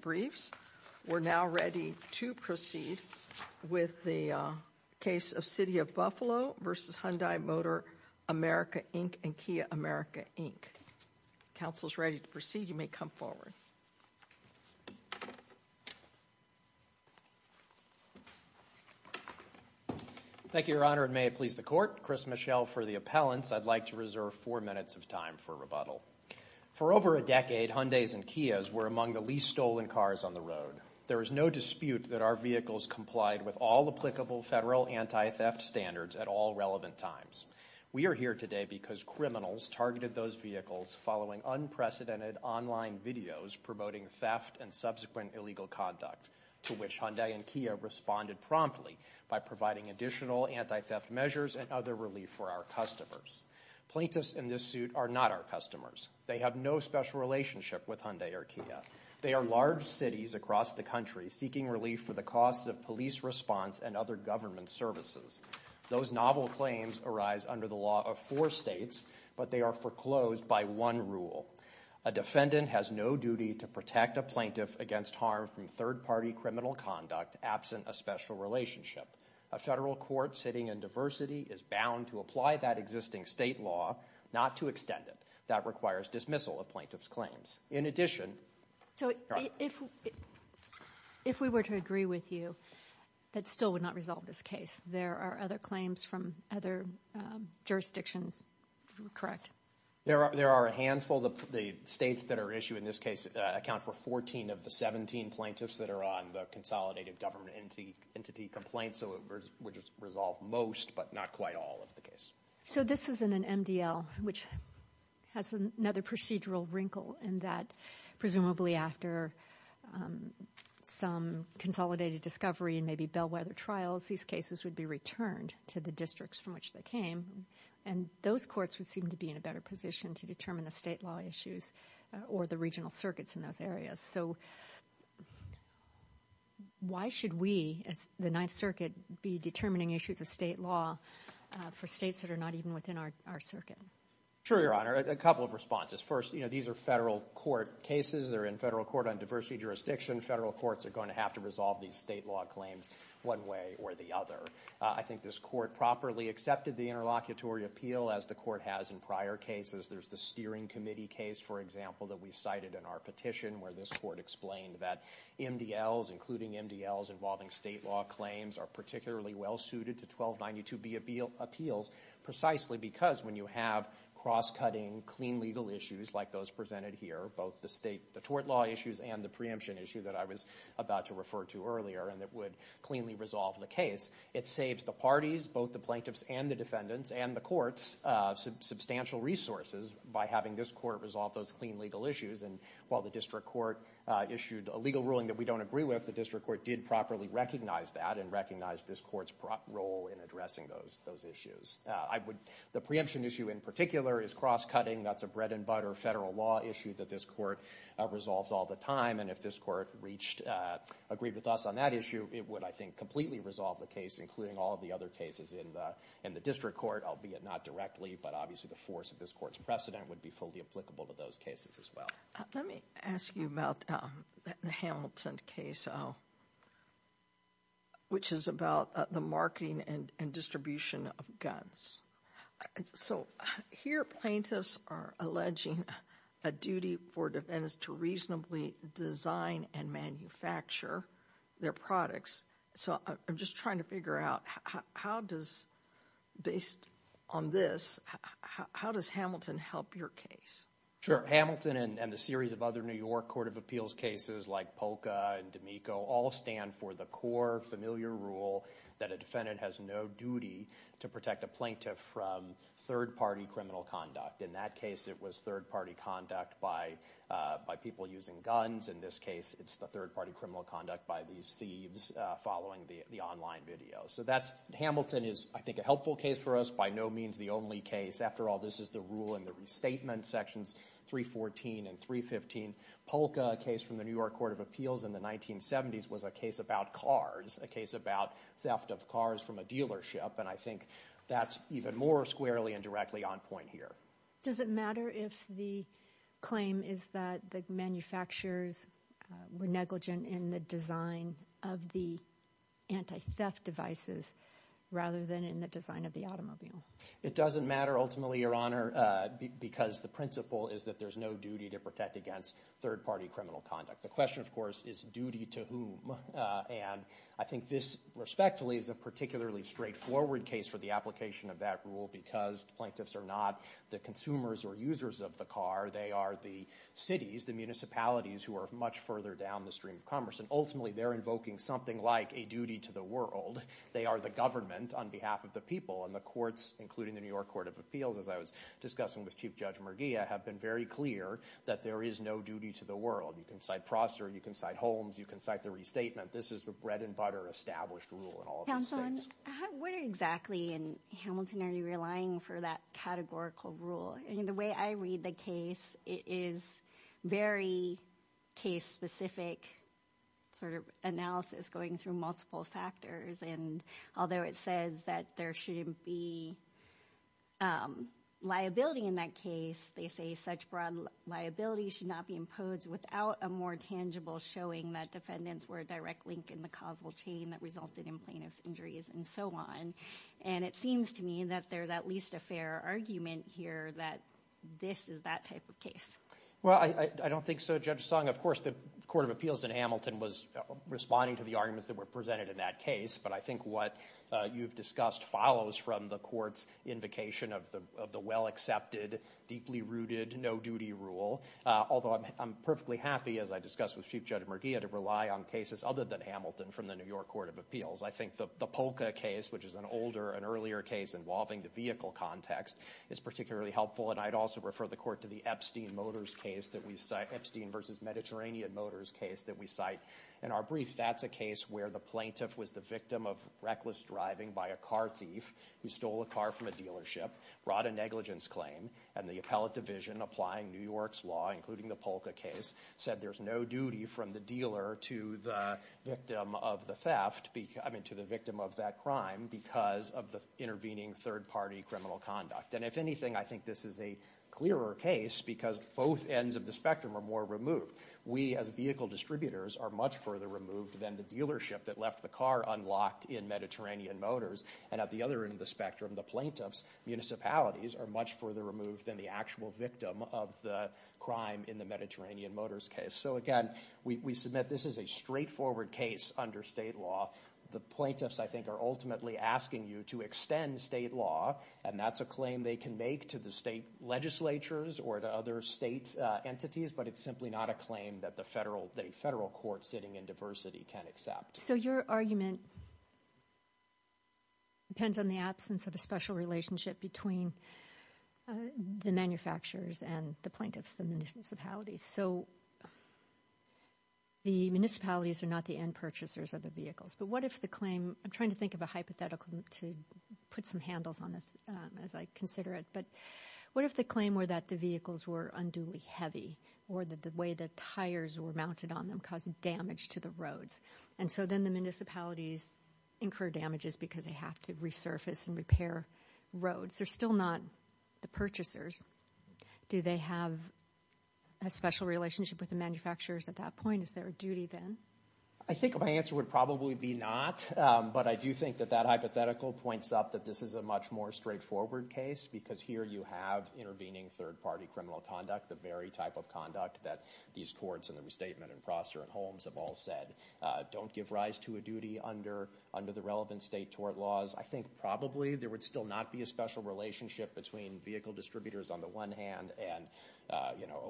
briefs. We're now ready to proceed with the case of City of Buffalo v. Hyundai Motor America, Inc. and Kia America, Inc. Council's ready to proceed. You may come forward. Thank you, Your Honor, and may it please the Court. Chris Michel for the appellants. I'd like to reserve four minutes of time for rebuttal. For over a decade, Hyundais and Kias were among the least stolen cars on the road. There is no dispute that our vehicles complied with all applicable federal anti-theft standards at all relevant times. We are here today because criminals targeted those vehicles following unprecedented online videos promoting theft and subsequent illegal conduct, to which Hyundai and Kia responded promptly by providing additional anti-theft measures and other relief for our customers. Plaintiffs in this suit are not our They have no special relationship with Hyundai or Kia. They are large cities across the country seeking relief for the costs of police response and other government services. Those novel claims arise under the law of four states, but they are foreclosed by one rule. A defendant has no duty to protect a plaintiff against harm from third-party criminal conduct absent a special relationship. A federal court sitting in diversity is bound to apply that existing state law, not to extend it. That requires dismissal of plaintiff's claims. In addition, If we were to agree with you, that still would not resolve this case. There are other claims from other jurisdictions, correct? There are a handful. The states that are issued in this case account for 14 of the 17 plaintiffs that are on the consolidated government entity complaint, so it would resolve most, but not quite all of the case. So this is in an MDL, which has another procedural wrinkle in that, presumably after some consolidated discovery and maybe bellwether trials, these cases would be returned to the districts from which they came, and those courts would seem to be in a better position to determine the state law issues or the regional circuits in those areas. So why should we, as the Ninth Circuit, be determining issues of state law for states that are not even within our circuit? Sure, Your Honor. A couple of responses. First, you know, these are federal court cases. They're in federal court on diversity jurisdiction. Federal courts are going to have to resolve these state law claims one way or the other. I think this court properly accepted the interlocutory appeal, as the court has in prior cases. There's the steering committee case, for example, that we cited in our petition where this court explained that MDLs, including MDLs involving state law claims, are particularly well suited to 1292B appeals precisely because when you have cross-cutting, clean legal issues like those presented here, both the state, the tort law issues and the preemption issue that I was about to refer to earlier, and that would cleanly resolve the case, it saves the parties, both the plaintiffs and the defendants and the courts, substantial resources by having this court resolve those clean legal issues. And while the district court issued a legal ruling that we don't agree with, the district court did properly recognize that and recognize this court's role in addressing those issues. The preemption issue in particular is cross-cutting. That's a bread and butter federal law issue that this court resolves all the time. And if this court agreed with us on that issue, it would, I think, completely resolve the case, and the district court, albeit not directly, but obviously the force of this court's precedent would be fully applicable to those cases as well. Let me ask you about the Hamilton case, which is about the marketing and distribution of guns. So here plaintiffs are alleging a duty for defendants to reasonably design and manufacture their products. So I'm just trying to figure out how does, based on this, how does Hamilton help your case? Sure. Hamilton and the series of other New York Court of Appeals cases like Polka and D'Amico all stand for the core familiar rule that a defendant has no duty to protect a plaintiff from third-party criminal conduct. In that case, it was third-party conduct by people using guns. In this case, it's the online video. So that's, Hamilton is, I think, a helpful case for us, by no means the only case. After all, this is the rule in the restatement sections 314 and 315. Polka, a case from the New York Court of Appeals in the 1970s, was a case about cars, a case about theft of cars from a dealership, and I think that's even more squarely and directly on point here. Does it matter if the claim is that the manufacturers were negligent in the design of the anti-theft devices rather than in the design of the automobile? It doesn't matter, ultimately, Your Honor, because the principle is that there's no duty to protect against third-party criminal conduct. The question, of course, is duty to whom? And I think this, respectfully, is a particularly straightforward case for the application of that rule because plaintiffs are not the consumers or users of the car. They are the cities, the municipalities, who are much further down the stream of commerce, and ultimately, they're invoking something like a duty to the world. They are the government on behalf of the people, and the courts, including the New York Court of Appeals, as I was discussing with Chief Judge Merguia, have been very clear that there is no duty to the world. You can cite Prosser. You can cite Holmes. You can cite the restatement. This is the bread-and-butter established rule in all of these things. Counsel, what exactly in Hamilton are you relying for that categorical rule? I mean, the way I read the case, it is very case-specific sort of analysis going through multiple factors, and although it says that there shouldn't be liability in that case, they say such broad liability should not be imposed without a showing that defendants were a direct link in the causal chain that resulted in plaintiff's injuries and so on, and it seems to me that there's at least a fair argument here that this is that type of case. Well, I don't think so, Judge Song. Of course, the Court of Appeals in Hamilton was responding to the arguments that were presented in that case, but I think what you've discussed follows from the court's invocation of the well-accepted, deeply-rooted, no-duty rule, although I'm perfectly happy, as I discussed with Chief Judge Murgia, to rely on cases other than Hamilton from the New York Court of Appeals. I think the Polka case, which is an older and earlier case involving the vehicle context, is particularly helpful, and I'd also refer the Court to the Epstein vs. Mediterranean Motors case that we cite in our brief. That's a case where the plaintiff was the victim of reckless driving by a car thief who stole a car from a dealership, brought a negligence claim, and the appellate division applying New York's law, including the Polka case, said there's no duty from the dealer to the victim of the theft, I mean to the victim of that crime, because of the intervening third-party criminal conduct. And if anything, I think this is a clearer case because both ends of the spectrum are more removed. We as vehicle distributors are much further removed than the dealership that left the car unlocked in Mediterranean Motors, and at the other end of the spectrum, the plaintiffs' municipalities are much further removed than the actual victim of the crime in the Mediterranean Motors case. So again, we submit this is a straightforward case under state law. The plaintiffs, I think, are ultimately asking you to extend state law, and that's a claim they can make to the state legislatures or to other state entities, but it's simply not a claim that the federal court sitting in diversity can accept. So your argument depends on the absence of a special relationship between the manufacturers and the plaintiffs, the municipalities. So the municipalities are not the end purchasers of the vehicles, but what if the claim, I'm trying to think of a hypothetical to put some handles on this as I consider it, but what if the claim were that the vehicles were unduly heavy, or that the way the tires were mounted on them caused damage to the roads? And so then the municipalities incur damages because they have to resurface and repair roads. They're still not the purchasers. Do they have a special relationship with the manufacturers at that point? Is there a duty then? I think my answer would probably be not, but I do think that that hypothetical points up that this is a much more straightforward case, because here you have intervening third-party criminal conduct, the very type of conduct that these courts and the restatement and Prosser and Holmes have all said don't give rise to a duty under the relevant state tort laws. I think probably there would still not be a special relationship between vehicle distributors on the one hand and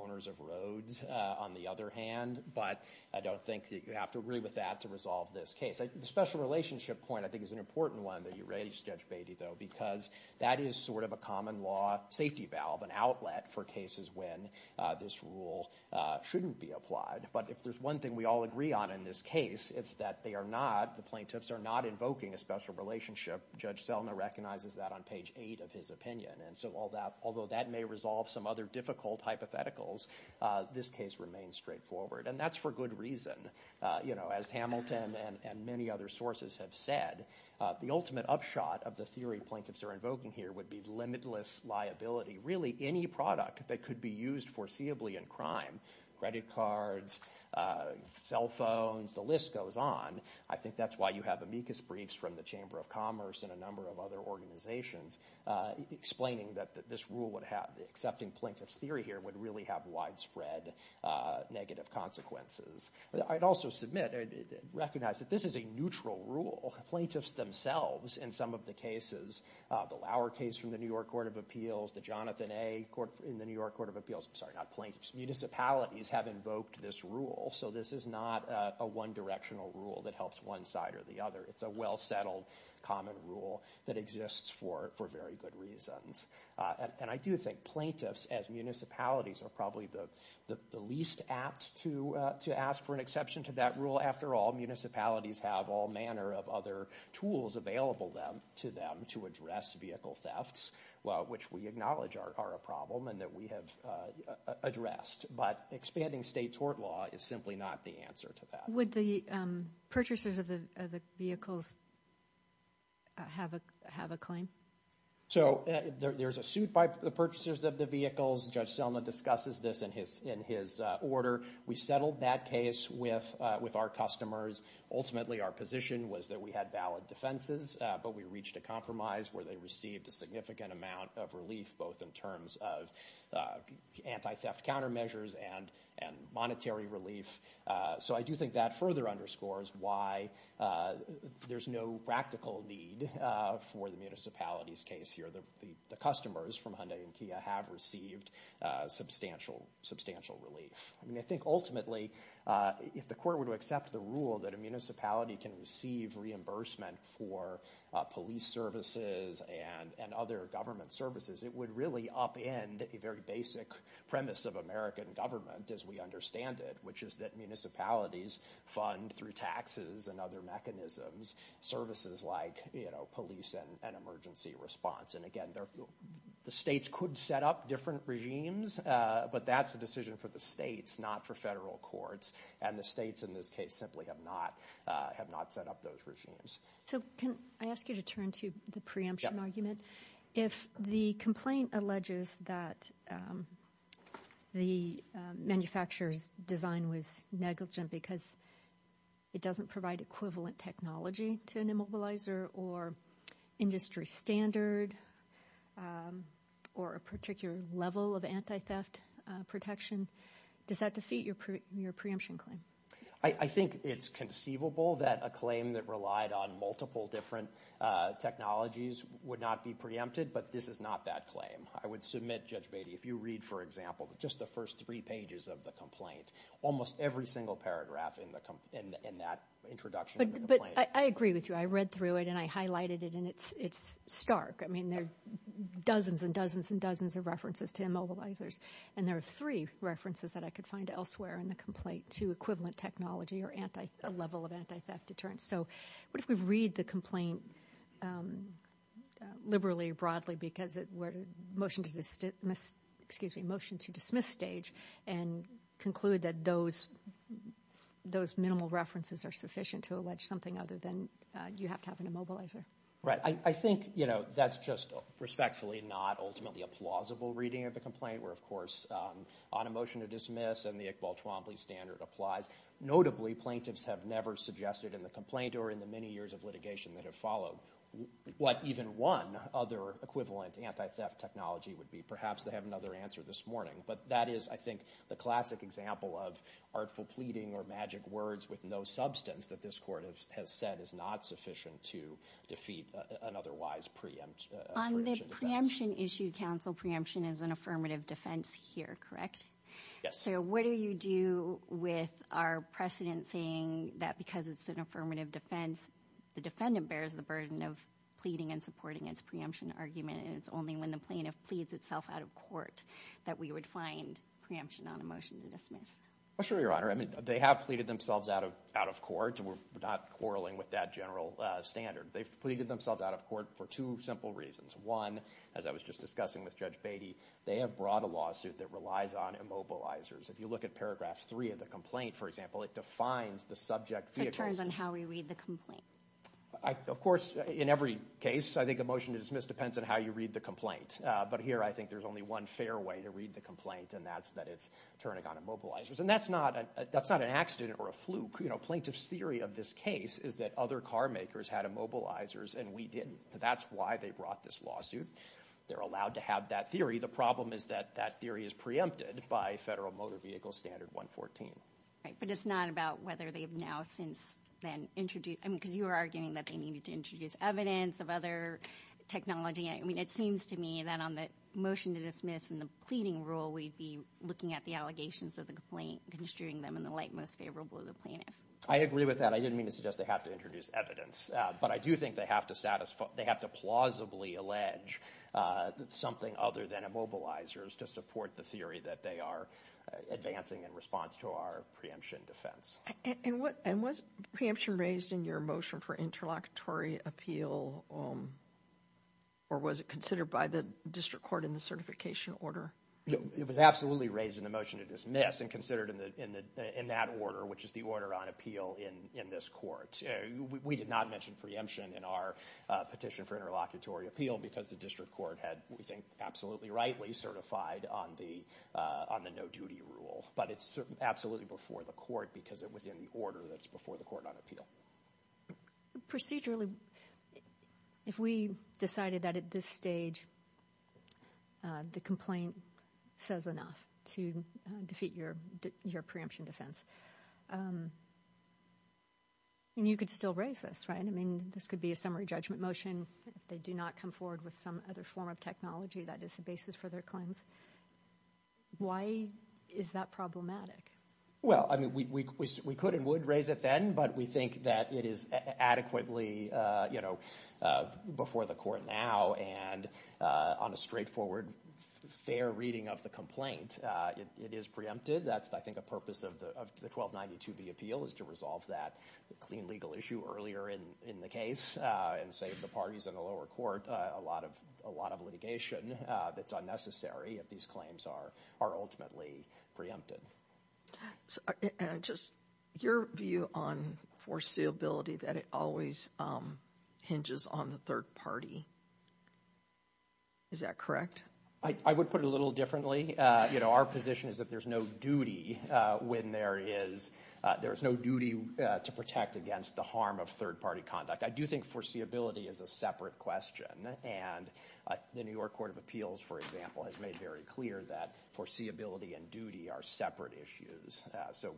owners of roads on the other hand, but I don't think that you have to agree with that to resolve this case. The special relationship point I think is an important one that you raised, Judge Beatty, though, because that is sort of a shouldn't be applied, but if there's one thing we all agree on in this case, it's that they are not, the plaintiffs are not invoking a special relationship. Judge Selma recognizes that on page eight of his opinion, and so all that, although that may resolve some other difficult hypotheticals, this case remains straightforward, and that's for good reason. You know, as Hamilton and many other sources have said, the ultimate upshot of the theory plaintiffs are invoking here would be limitless liability. Really any product that could be used foreseeably in crime credit cards, cell phones, the list goes on. I think that's why you have amicus briefs from the Chamber of Commerce and a number of other organizations explaining that this rule would have, accepting plaintiff's theory here, would really have widespread negative consequences. I'd also submit, recognize that this is a neutral rule. Plaintiffs themselves in some of the cases, the Lauer case from the New York Court of Appeals, the Jonathan A. Court in the New York Court of Appeals, I'm sorry, not plaintiffs, municipalities have invoked this rule. So this is not a one directional rule that helps one side or the other. It's a well settled common rule that exists for very good reasons. And I do think plaintiffs as municipalities are probably the least apt to ask for an exception to that rule. After all, municipalities have all manner of other tools available to them to address vehicle thefts, which we acknowledge are a problem and that we have addressed. But expanding state tort law is simply not the answer to that. Would the purchasers of the vehicles have a claim? So there's a suit by the purchasers of the vehicles. Judge Selma discusses this in his order. We settled that case with our customers. Ultimately, our position was that we had valid defenses, but we reached a compromise where they received a significant amount of relief, both in terms of anti-theft countermeasures and monetary relief. So I do think that further underscores why there's no practical need for the municipalities case here. The customers from Hyundai and Kia have received substantial relief. I mean, I think ultimately, if the court would accept the rule that a municipality can receive reimbursement for police services and other government services, it would really upend a very basic premise of American government, as we understand it, which is that municipalities fund, through taxes and other mechanisms, services like police and emergency response. And again, the states could set up different regimes, but that's a decision for the states, not for federal courts. And the states, in this case, simply have not set up those regimes. So can I ask you to turn to the preemption argument? If the complaint alleges that the manufacturer's design was negligent because it doesn't provide equivalent technology to an immobilizer or industry standard or a particular level of anti-theft protection, does that defeat your preemption claim? I think it's conceivable that a claim that relied on multiple different technologies would not be preempted, but this is not that claim. I would submit, Judge Beatty, if you read, for example, just the first three pages of the complaint, almost every single paragraph in that introduction of the complaint. But I agree with you. I read through it, and I highlighted it, and it's stark. I mean, there are dozens and dozens and dozens of references to immobilizers, and there are three references that I could find elsewhere in the complaint to equivalent technology or a level of anti-theft deterrence. So what if we read the complaint liberally or broadly because it were a motion to dismiss stage and conclude that those minimal references are sufficient to allege something other than you have to have an immobilizer? Right. I think that's just respectfully not ultimately a plausible reading of the complaint where, of course, on a motion to dismiss and the Iqbal-Chwambli standard applies. Notably, plaintiffs have never suggested in the complaint or in the many years of litigation that have followed what even one other equivalent anti-theft technology would be. Perhaps they have another answer this morning. But that is, I think, the classic example of artful pleading or magic words with no substance that this Court has said is not sufficient to defeat an otherwise preempt. On the preemption issue, counsel, preemption is an affirmative defense here, correct? Yes. What do you do with our precedent saying that because it's an affirmative defense, the defendant bears the burden of pleading and supporting its preemption argument and it's only when the plaintiff pleads itself out of court that we would find preemption on a motion to dismiss? Sure, Your Honor. I mean, they have pleaded themselves out of court. We're not quarreling with that general standard. They've pleaded themselves out of court for two simple reasons. One, as I was just discussing with Judge Beatty, they have brought a lawsuit that relies on immobilizers. If you look at paragraph 3 of the complaint, for example, it defines the subject vehicle. So it turns on how we read the complaint. Of course, in every case, I think a motion to dismiss depends on how you read the complaint. But here, I think there's only one fair way to read the complaint, and that's that it's turning on immobilizers. And that's not an accident or a fluke. You know, plaintiff's theory of this case is that other carmakers had immobilizers and we didn't. That's why they brought this lawsuit. They're allowed to have that theory. The problem is that that theory is preempted by Federal Motor Vehicle Standard 114. Right, but it's not about whether they've now since then introduced, I mean, because you were arguing that they needed to introduce evidence of other technology. I mean, it seems to me that on the motion to dismiss and the pleading rule, we'd be looking at the allegations of the complaint, construing them in the light most favorable of the plaintiff. I agree with that. I didn't mean to suggest they have to introduce evidence, but I do think they have to plausibly allege something other than immobilizers to support the theory that they are advancing in response to our preemption defense. And was preemption raised in your motion for interlocutory appeal, or was it considered by the District Court in the certification order? It was absolutely raised in the motion to dismiss and considered in that order, which is the order on appeal in this court. We did not mention preemption in our petition for interlocutory appeal because the District Court had, we think, absolutely rightly certified on the no-duty rule. But it's absolutely before the court because it was in the order that's before the court on appeal. Procedurally, if we decided that at this stage the complaint says enough to defeat your preemption defense, and you could still raise this, right? I mean, this could be a summary judgment motion. They do not come forward with some other form of technology that is the basis for their claims. Why is that problematic? Well, I mean, we could and would raise it then, but we think that it is adequately, you know, before the court now and on a straightforward, fair reading of the complaint. It is preempted. That's, I think, a purpose of the 1292b appeal is to resolve that clean legal issue earlier in the case and save the parties in the lower court a lot of litigation that's unnecessary if these claims are ultimately preempted. So just your view on foreseeability, that it always hinges on the third party. Is that correct? I would put it a little differently. You know, our position is that there's no duty when there is, there's no duty to protect against the harm of third party conduct. I do think foreseeability is a separate question, and the New York Court of Appeals, for example, has made very clear that foreseeability and duty are separate issues. So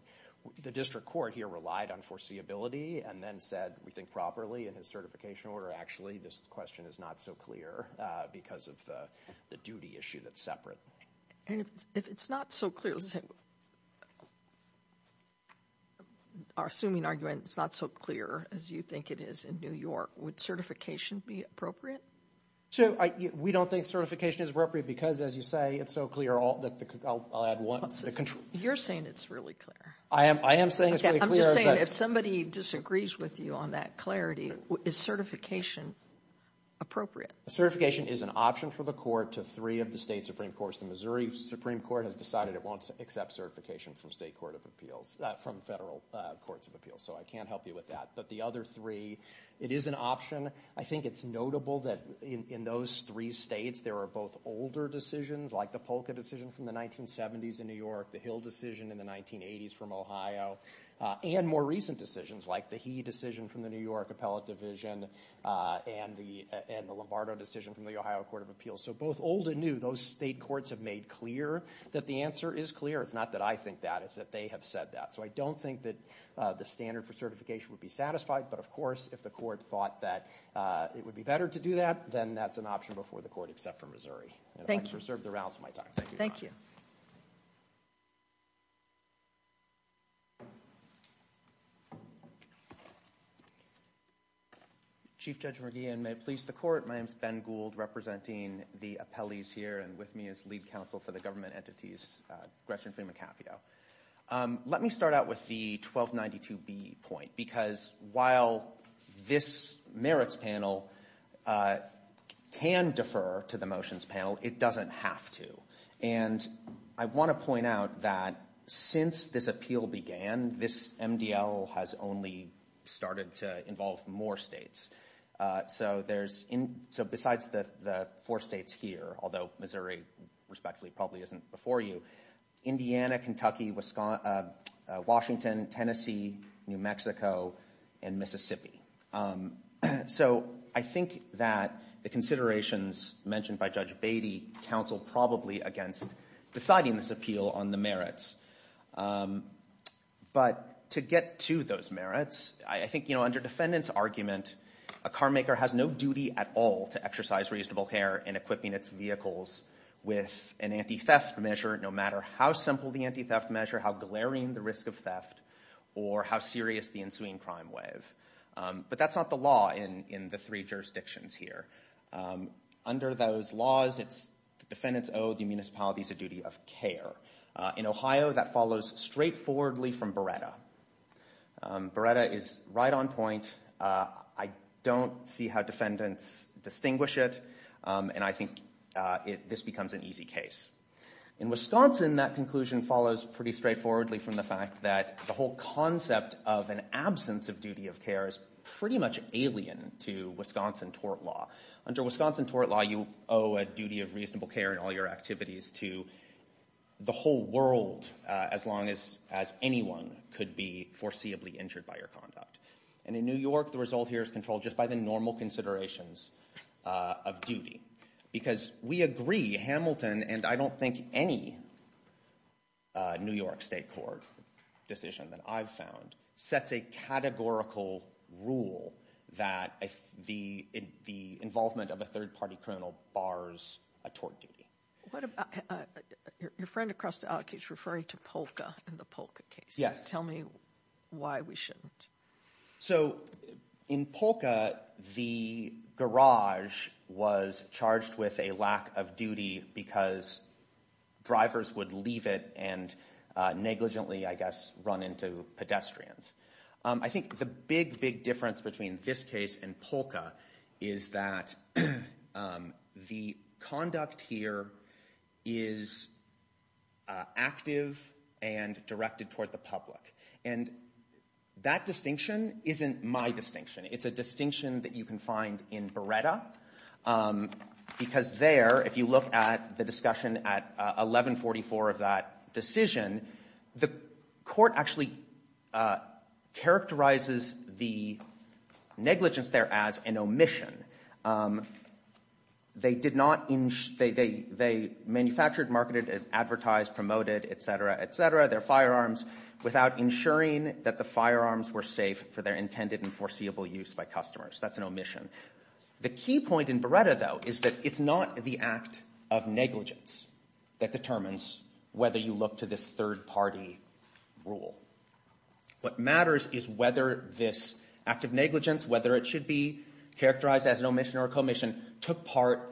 the district court here relied on foreseeability and then said, we think properly in his certification order. Actually, this question is not so clear because of the duty issue that's separate. And if it's not so clear, let's say, our assuming argument, it's not so clear as you think it is in New York, would certification be appropriate? So we don't think certification is appropriate because, as you say, it's so clear. You're saying it's really clear. I am saying it's really clear. I'm just saying if somebody disagrees with you on that clarity, is certification appropriate? Certification is an option for the court to three of the state supreme courts. The Missouri Supreme Court has decided it won't accept certification from state court of appeals, from federal courts of appeals. So I can't help you with that. But the other three, it is an option. I think it's notable that in those three states, there are both older decisions, like the Polka decision from the 1970s in New York, the Hill decision in the 1980s from Ohio, and more recent decisions, like the Hea decision from the New York Appellate Division and the Lombardo decision from the Ohio Court of Appeals. So both old and new, those state courts have made clear that the answer is clear. It's not that I think that. It's that they have said that. So I don't think that the standard for certification would be satisfied. But of course, if the court thought that it would be better to do that, then that's an option before the court, except for Missouri. Thank you. I reserve the rounds of my time. Thank you. Chief Judge McGeehan, may it please the court. My name is Ben Gould, representing the appellees here. And with me is lead counsel for the government entities, Gretchen Freeman-Capio. Let me start out with the 1292B point, because while this merits panel can defer to the motions panel, it doesn't have to. And I want to point out that since this appeal began, this MDL has only started to involve more states. So besides the four states here, although Missouri, respectfully, probably isn't before you, Indiana, Kentucky, Washington, Tennessee, New Mexico, and Mississippi. So I think that the considerations mentioned by Judge Beatty counseled probably against deciding this appeal on the merits. But to get to those merits, I think, you know, under defendant's argument, a carmaker has no duty at all to exercise reasonable care in equipping its vehicles with an anti-theft measure, no matter how simple the anti-theft measure, how glaring the risk of theft, or how serious the ensuing crime wave. But that's not the law in the three jurisdictions here. Under those laws, it's defendants owe the municipalities a duty of care. In Ohio, that follows straightforwardly from Beretta. Beretta is right on point. I don't see how defendants distinguish it, and I think this becomes an easy case. In Wisconsin, that conclusion follows pretty straightforwardly from the fact that the whole concept of an absence of duty of care is pretty much alien to Wisconsin tort law. Under Wisconsin tort law, you owe a duty of reasonable care in all your activities to the whole world, as long as anyone could be foreseeably injured by your conduct. And in New York, the result here is controlled just by the normal considerations of duty. Because we agree, Hamilton, and I don't think any New York state court decision that I've found, sets a categorical rule that the involvement of a third-party criminal bars a tort duty. What about, your friend across the aisle keeps referring to Polka and the Polka case. Yes. Tell me why we shouldn't. So in Polka, the garage was charged with a lack of duty because drivers would leave it and negligently, I guess, run into pedestrians. I think the big, big difference between this case and Polka is that the conduct here is active and directed toward the public. And that distinction isn't my distinction. It's a distinction that you can find in Beretta. Because there, if you look at discussion at 1144 of that decision, the court actually characterizes the negligence there as an omission. They manufactured, marketed, advertised, promoted, et cetera, et cetera, their firearms without ensuring that the firearms were safe for their intended and foreseeable use by customers. That's an omission. The key point in Beretta, though, is that it's not the act of negligence that determines whether you look to this third-party rule. What matters is whether this act of negligence, whether it should be characterized as an omission or a commission, took part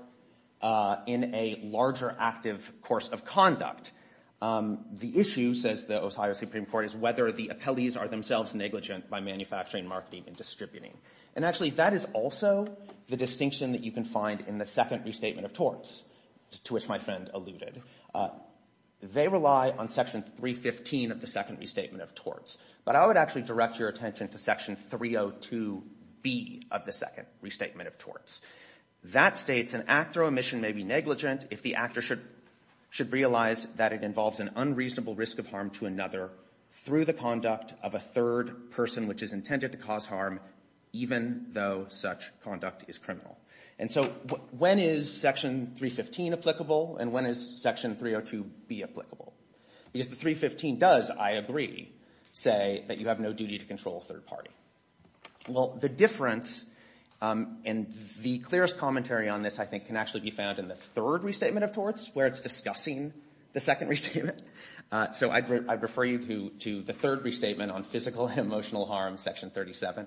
in a larger active course of conduct. The issue, says the Ohio Supreme Court, is whether the appellees are themselves negligent by manufacturing, marketing, and distributing. And actually, that is also the distinction that you can find in the second restatement of torts, to which my friend alluded. They rely on section 315 of the second restatement of torts. But I would actually direct your attention to section 302B of the second restatement of torts. That states, an actor omission may be negligent if the actor should realize that it involves an unreasonable risk of harm to another through the conduct of a third person which is intended to cause harm even though such conduct is criminal. And so when is section 315 applicable and when is section 302B applicable? Because the 315 does, I agree, say that you have no duty to control a third party. Well, the difference, and the clearest commentary on this, I think, can actually be found in the third restatement of torts, where it's discussing the second restatement. So I'd refer you to the third restatement on physical and emotional harm, section 37.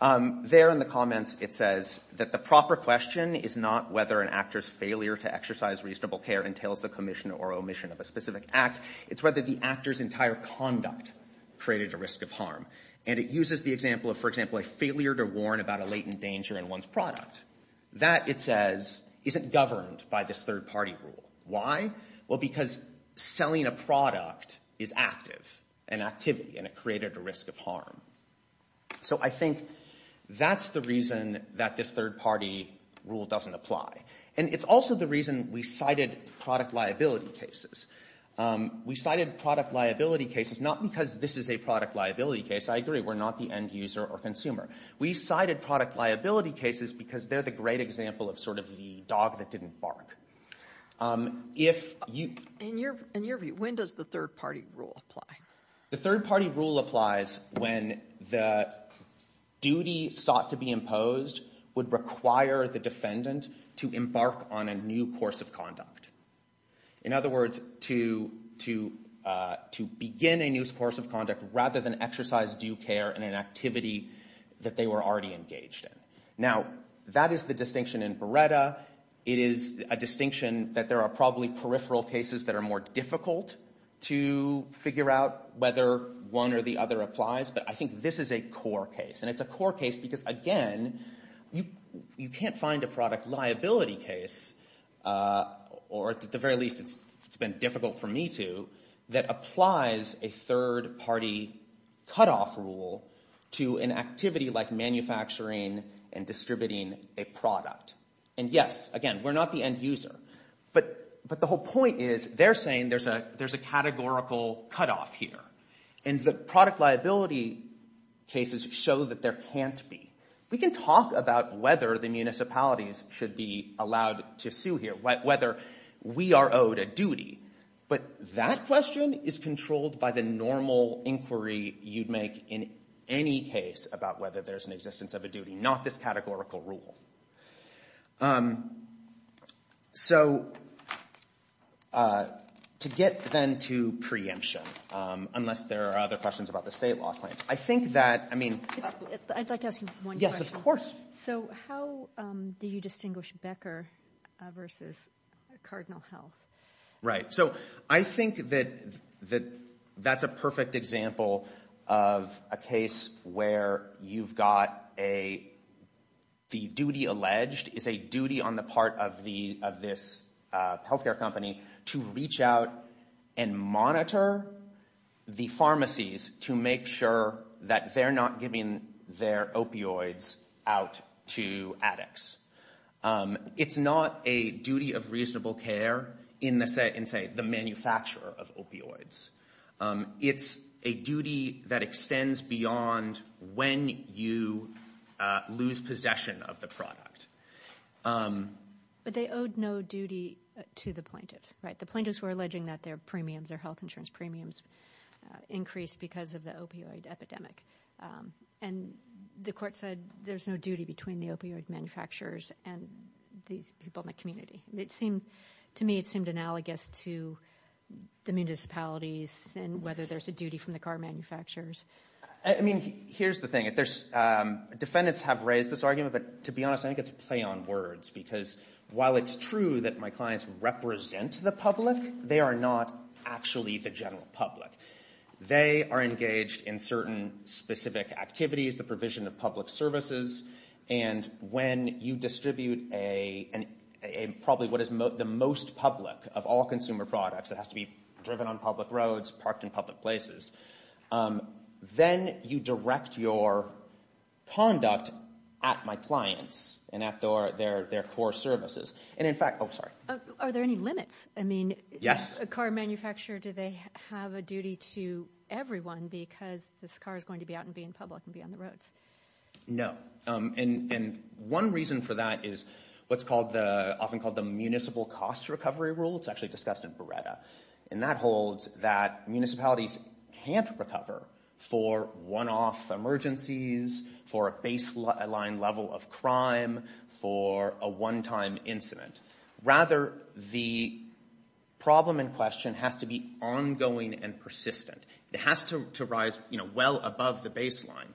There in the comments, it says that the proper question is not whether an actor's failure to exercise reasonable care entails the commission or omission of a specific act. It's whether the actor's entire conduct created a risk of harm. And it uses the example of, for example, a failure to warn about a latent danger in one's product. That, it says, isn't governed by this third party rule. Why? Well, because selling a product is active, an activity, and it created a risk of harm. So I think that's the reason that this third party rule doesn't apply. And it's also the reason we cited product liability cases. We cited product liability cases not because this is a product liability case. I agree, we're not the end user or consumer. We cited product liability cases because they're the great example of sort of the dog that didn't bark. In your view, when does the third party rule apply? The third party rule applies when the duty sought to be imposed would require the defendant to embark on a new course of conduct. In other words, to begin a new course of conduct rather than exercise due care in an activity that they were already engaged in. Now, that is the distinction in Beretta. It is a distinction that there are probably peripheral cases that are more difficult to figure out whether one or the other applies. But I think this is a core case. And it's a core case because, again, you can't find a product liability case, or at the very least it's been difficult for me to, that applies a third party cutoff rule to an activity like manufacturing and distributing a product. And yes, again, we're not the end user. But the whole point is they're saying there's a categorical cutoff here. And the product liability cases show that there can't be. We can talk about whether the municipalities should be allowed to sue here, whether we are owed a duty. But that question is controlled by the normal inquiry you'd make in any case about whether there's an existence of a duty, not this categorical rule. So to get then to preemption, unless there are other questions about the state law claim, I think that, I mean. I'd like to ask you one question. Yes, of course. So how do you distinguish Becker versus Cardinal Health? Right. So I think that that's a perfect example of a case where you've got a, the duty alleged is a duty on the part of this healthcare company to reach out and monitor the pharmacies to make sure that they're not giving their opioids out to addicts. It's not a duty of reasonable care in the, say, manufacturer of opioids. It's a duty that extends beyond when you lose possession of the product. But they owed no duty to the plaintiffs, right? The plaintiffs were alleging that their premiums, their health insurance premiums, increased because of the opioid epidemic. And the court said there's no duty between the opioid manufacturers and these people in the community. It seemed to me it seemed analogous to the municipalities and whether there's a duty from the car manufacturers. I mean, here's the thing. Defendants have raised this argument, but to be honest, I think it's a play on words. Because while it's true that my clients represent the public, they are not actually the general public. They are engaged in certain specific activities, the provision of public services. And when you distribute a, probably what is the most public of all consumer products, it has to be driven on public roads, parked in public places, then you direct your conduct at my clients and at their core services. And in fact, oh sorry. Are there any limits? I mean, a car manufacturer, do they have a duty to everyone because this car is going to be out and be in public and be on the roads? No. And one reason for that is what's often called the municipal cost recovery rule. It's actually discussed in Beretta. And that holds that municipalities can't recover for one-off emergencies, for a baseline level of crime, for a one-time incident. Rather, the problem in question has to be ongoing and persistent. It has to rise well above the baseline.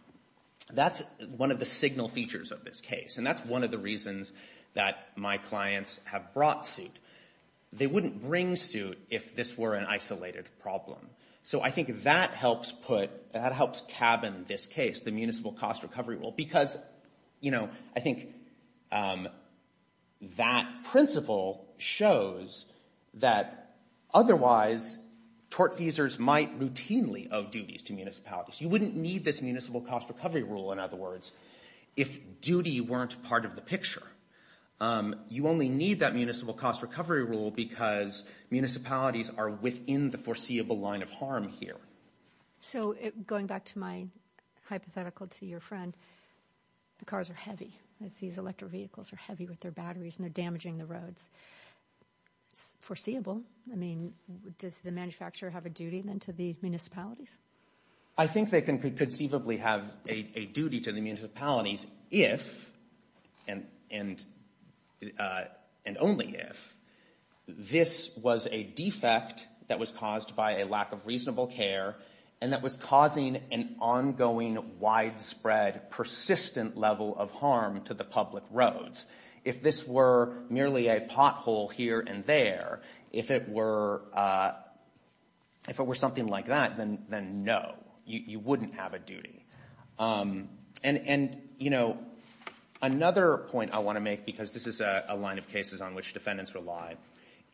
That's one of the signal features of this case. And that's one of the reasons that my clients have brought suit. They wouldn't bring suit if this were an isolated problem. So I think that helps put, that helps cabin this case, the municipal cost recovery rule. Because, you know, I think that principle shows that otherwise tortfeasors might routinely owe duties to municipalities. You wouldn't need this municipal cost recovery rule, in other words, if duty weren't part of the picture. You only need that municipal cost recovery rule because municipalities are within the foreseeable line of harm here. So going back to my hypothetical to your friend, the cars are heavy. These electric vehicles are heavy with their batteries and they're damaging the roads. It's foreseeable. I mean, does the manufacturer have a duty then to the municipalities? I think they can conceivably have a duty to the municipalities if, and only if, this was a defect that was caused by a lack of reasonable care and that was causing an ongoing widespread persistent level of harm to the public roads. If this were merely a pothole here and there, if it were something like that, then no, you wouldn't have a duty. And, you know, another point I want to make, because this is a line of cases on which defendants rely,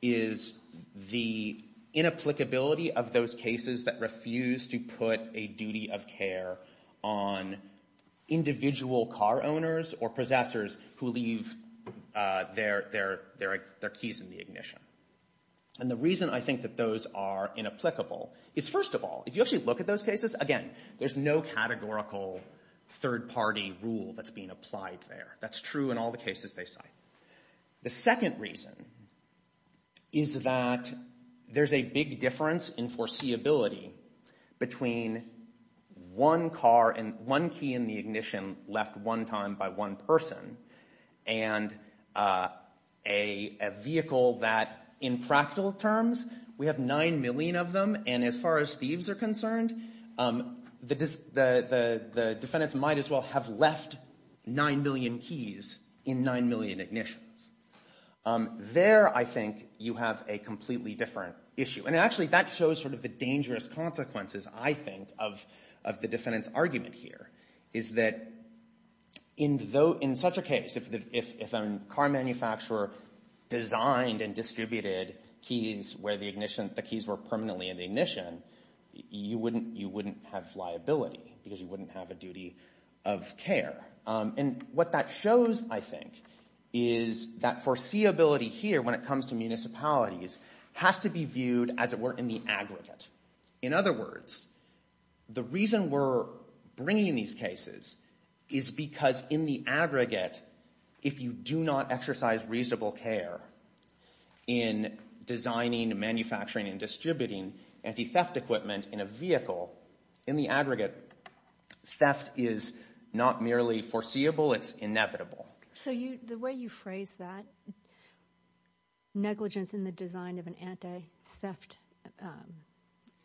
is the inapplicability of those cases that refuse to put a duty of care on individual car owners or possessors who leave their keys in the ignition. And the reason I think that those are inapplicable is, first of all, if you actually look at those cases, again, there's no categorical third-party rule that's being applied there. That's true in all the cases they cite. The second reason is that there's a big difference in foreseeability between one car and one key in the ignition left one time by one person and a vehicle that, in practical terms, we have nine million of them, and as far as thieves are concerned, the defendants might as well have left nine million keys in nine million ignitions. There, I think, you have a completely different issue. And actually that shows sort of the dangerous consequences, I think, of the defendant's argument here, is that in such a case, if a car manufacturer designed and distributed keys where the ignition, the keys were permanently in the ignition, you wouldn't have liability because you wouldn't have a duty of care. And what that shows, I think, is that foreseeability here, when it comes to municipalities, has to be viewed as it were in the aggregate. In other words, the reason we're bringing these cases is because in the aggregate, if you do not exercise reasonable care in designing, manufacturing, and distributing anti-theft equipment in a vehicle, in the aggregate, theft is not merely foreseeable, it's inevitable. So the way you phrase that, negligence in the design of an anti-theft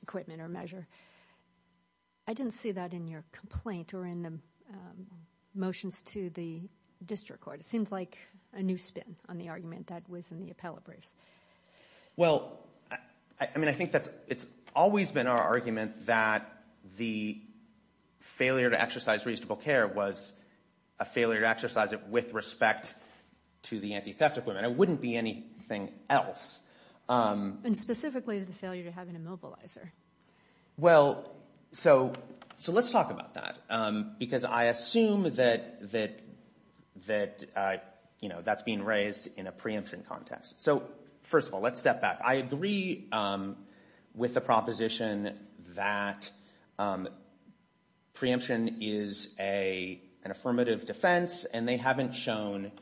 equipment or measure, I didn't see that in your complaint or in the motions to the district court. It seems like a new spin on the argument that was in the appellate briefs. Well, I mean, I think that's, it's always been our argument that the failure to exercise reasonable care was a failure to exercise it with respect to the anti-theft equipment. It wouldn't be anything else. And specifically the failure to have an immobilizer. Well, so let's talk about that because I assume that that, you know, that's being raised in a preemption context. So first of all, let's step back. I agree with the proposition that preemption is an affirmative defense and they haven't shown,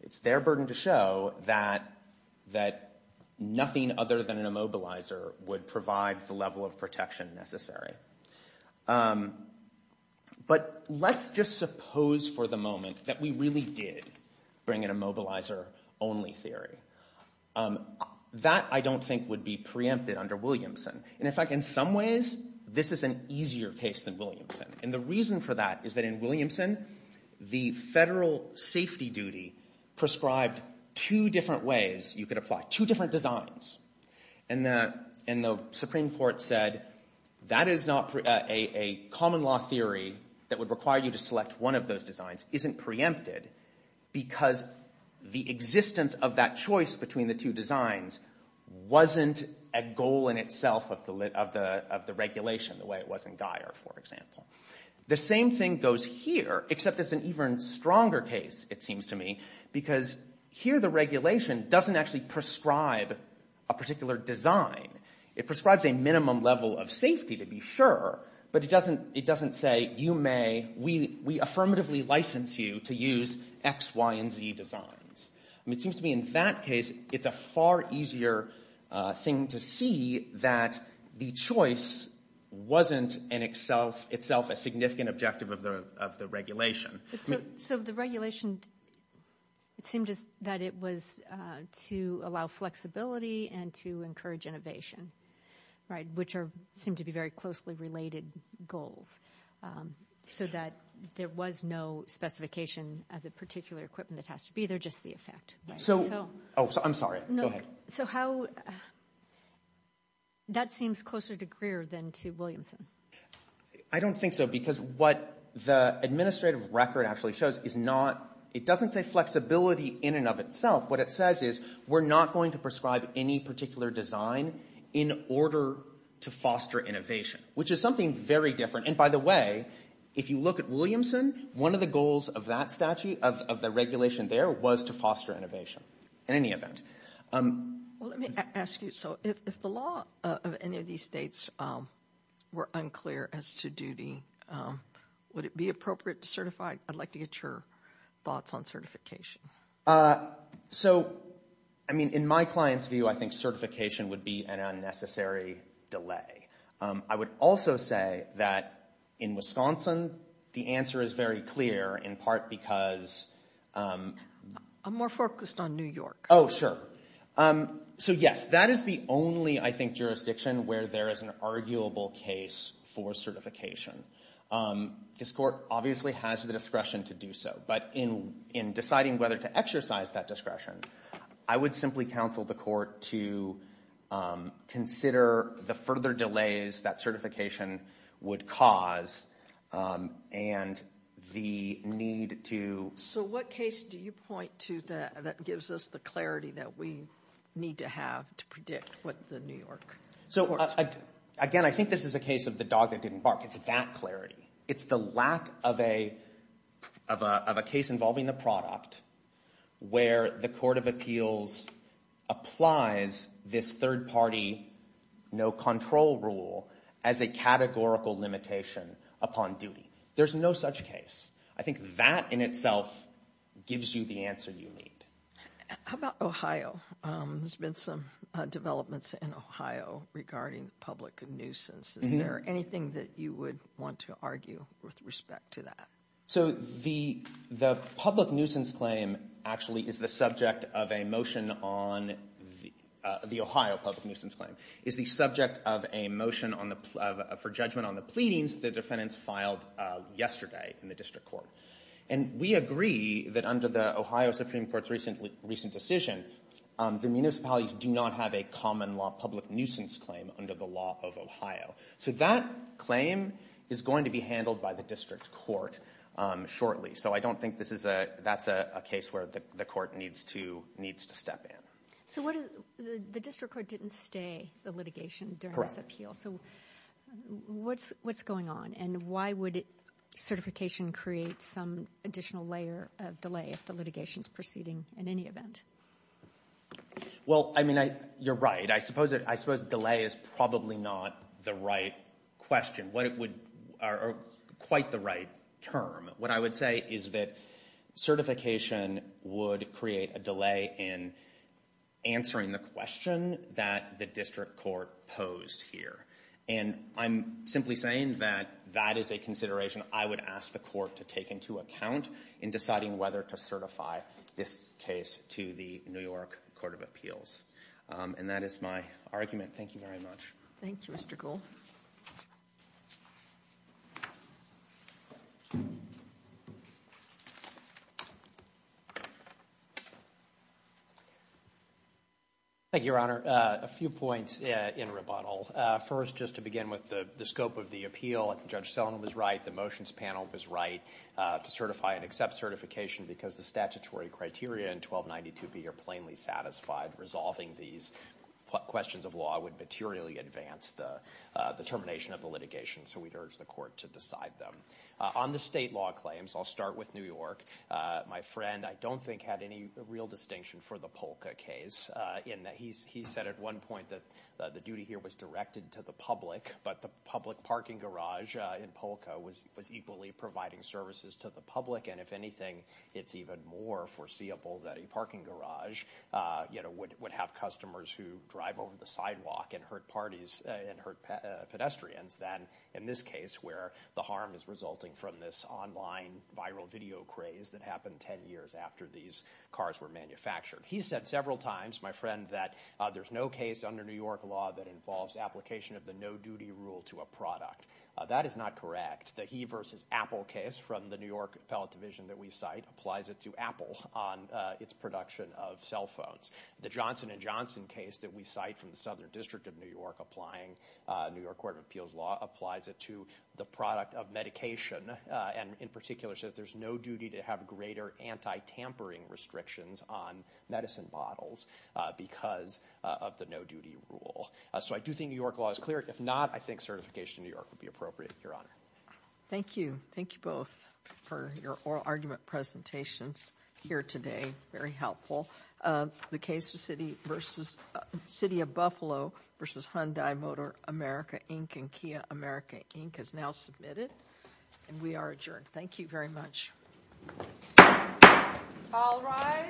it's their burden to show, that nothing other than an immobilizer would provide the level of protection necessary. But let's just suppose for the moment that we really did bring in a immobilizer only theory. That, I don't think, would be preempted under Williamson. And in fact, in some ways, this is an easier case than Williamson. And the reason for that is that in Williamson, the federal safety duty prescribed two different ways you could apply two different designs. And the Supreme Court said that is not a common law theory that would require you to select one of those designs isn't preempted because the existence of that choice between the two designs wasn't a goal in itself of the regulation the way it was in Guyer, for example. The same thing goes here, except it's an even stronger case, it seems to me, because here the particular design, it prescribes a minimum level of safety to be sure, but it doesn't say you may, we affirmatively license you to use X, Y, and Z designs. It seems to me in that case, it's a far easier thing to see that the choice wasn't in itself a significant objective of the regulation. So the regulation, it seemed that it was to allow flexibility and to encourage innovation, right, which are, seem to be very closely related goals. So that there was no specification of the particular equipment that has to be there, just the effect. So, oh, I'm sorry. Go ahead. So how, that seems closer to Greer than to Williamson. I don't think so, because what the administrative record actually shows is not, it doesn't say flexibility in and of itself. What it says is, we're not going to prescribe any particular design in order to foster innovation, which is something very different. And by the way, if you look at Williamson, one of the goals of that statute, of the regulation there, was to foster innovation, in any event. Well, let me ask you, so if the law of any of these states were unclear as to duty, would it be appropriate to certify? I'd like to get your thoughts on certification. So, I mean, in my client's view, I think certification would be an unnecessary delay. I would also say that in Wisconsin, the answer is very clear, in part because... I'm more focused on New York. Oh, sure. So yes, that is the only, I think, jurisdiction where there is an arguable case for certification. This court obviously has the discretion to do so, but in deciding whether to exercise that discretion, I would simply counsel the court to consider the further delays that certification would cause and the need to... So what case do you point to that gives us the clarity that we need to have to predict what the New York courts would do? So, again, I think this is a case of the dog that didn't bark. It's that clarity. It's the lack of a case involving the product where the Court of Appeals applies this third-party no-control rule as a categorical limitation upon duty. There's no such case. I think that in itself gives you the answer you need. How about Ohio? There's been some developments in Ohio regarding the public nuisance. Is there anything that you would want to argue with respect to that? So the public nuisance claim actually is the subject of a motion on the Ohio public nuisance claim. It's the subject of a motion for judgment on the pleadings the defendants filed yesterday in the district court. And we agree that under the Ohio Supreme Court's recent decision, the municipalities do not have a common law public nuisance claim under the law of Ohio. So that claim is going to be handled by the district court shortly. So I don't think that's a case where the court needs to step in. So the district court didn't stay the litigation during this appeal. So what's going on and why would certification create some additional layer of delay if the litigation is proceeding in any event? Well, I mean, you're right. I suppose delay is probably not the right question or quite the right term. What I would say is that certification would create a delay in answering the question that the district court posed here. And I'm simply saying that that is a consideration I would ask the court to take into account in deciding whether to certify this case to the New York Court of Appeals. And that is my argument. Thank you very much. Thank you, Mr. Gould. Thank you, Your Honor. A few points in rebuttal. First, just to begin with the scope of the appeal, Judge Selin was right. The motions panel was right to certify and accept certification because the statutory criteria in 1292B are plainly satisfied. Resolving these questions of law would materially advance the termination of the litigation. So we'd urge the court to decide them. On the state law claims, I'll start with New York. My friend, I don't think, had any real distinction for the Polka case in that he said at one point that the duty here was directed to the public, but the public parking garage in Polka was equally providing services to the public. And if anything, it's even more foreseeable that a parking garage, you know, would have customers who drive over the sidewalk and hurt parties and hurt pedestrians than in this case where the harm is resulting from this online viral video craze that happened 10 years after these cars were manufactured. He said several times, my friend, that there's no case under New York law that involves application of the no-duty rule to a product. That is not correct. The he versus Apple case from the New York appellate division that we cite applies it to Apple on its production of cell phones. The Johnson & Johnson case that we cite from the Southern District of New York applying New York Court of Appeals law applies it to the product of medication and in particular says there's no duty to have greater anti-tampering restrictions on medicine bottles because of the no-duty rule. So I do think New York law is clear. If not, I think certification in New York would be appropriate, Your Honor. Thank you. Thank you both for your oral argument presentations here today. Very helpful. The case of City of Buffalo versus Hyundai Motor America Inc. and Kia America Inc. is now submitted and we are adjourned. Thank you very much. All rise.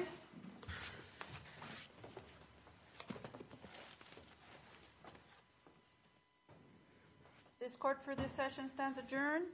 This court for this session stands adjourned.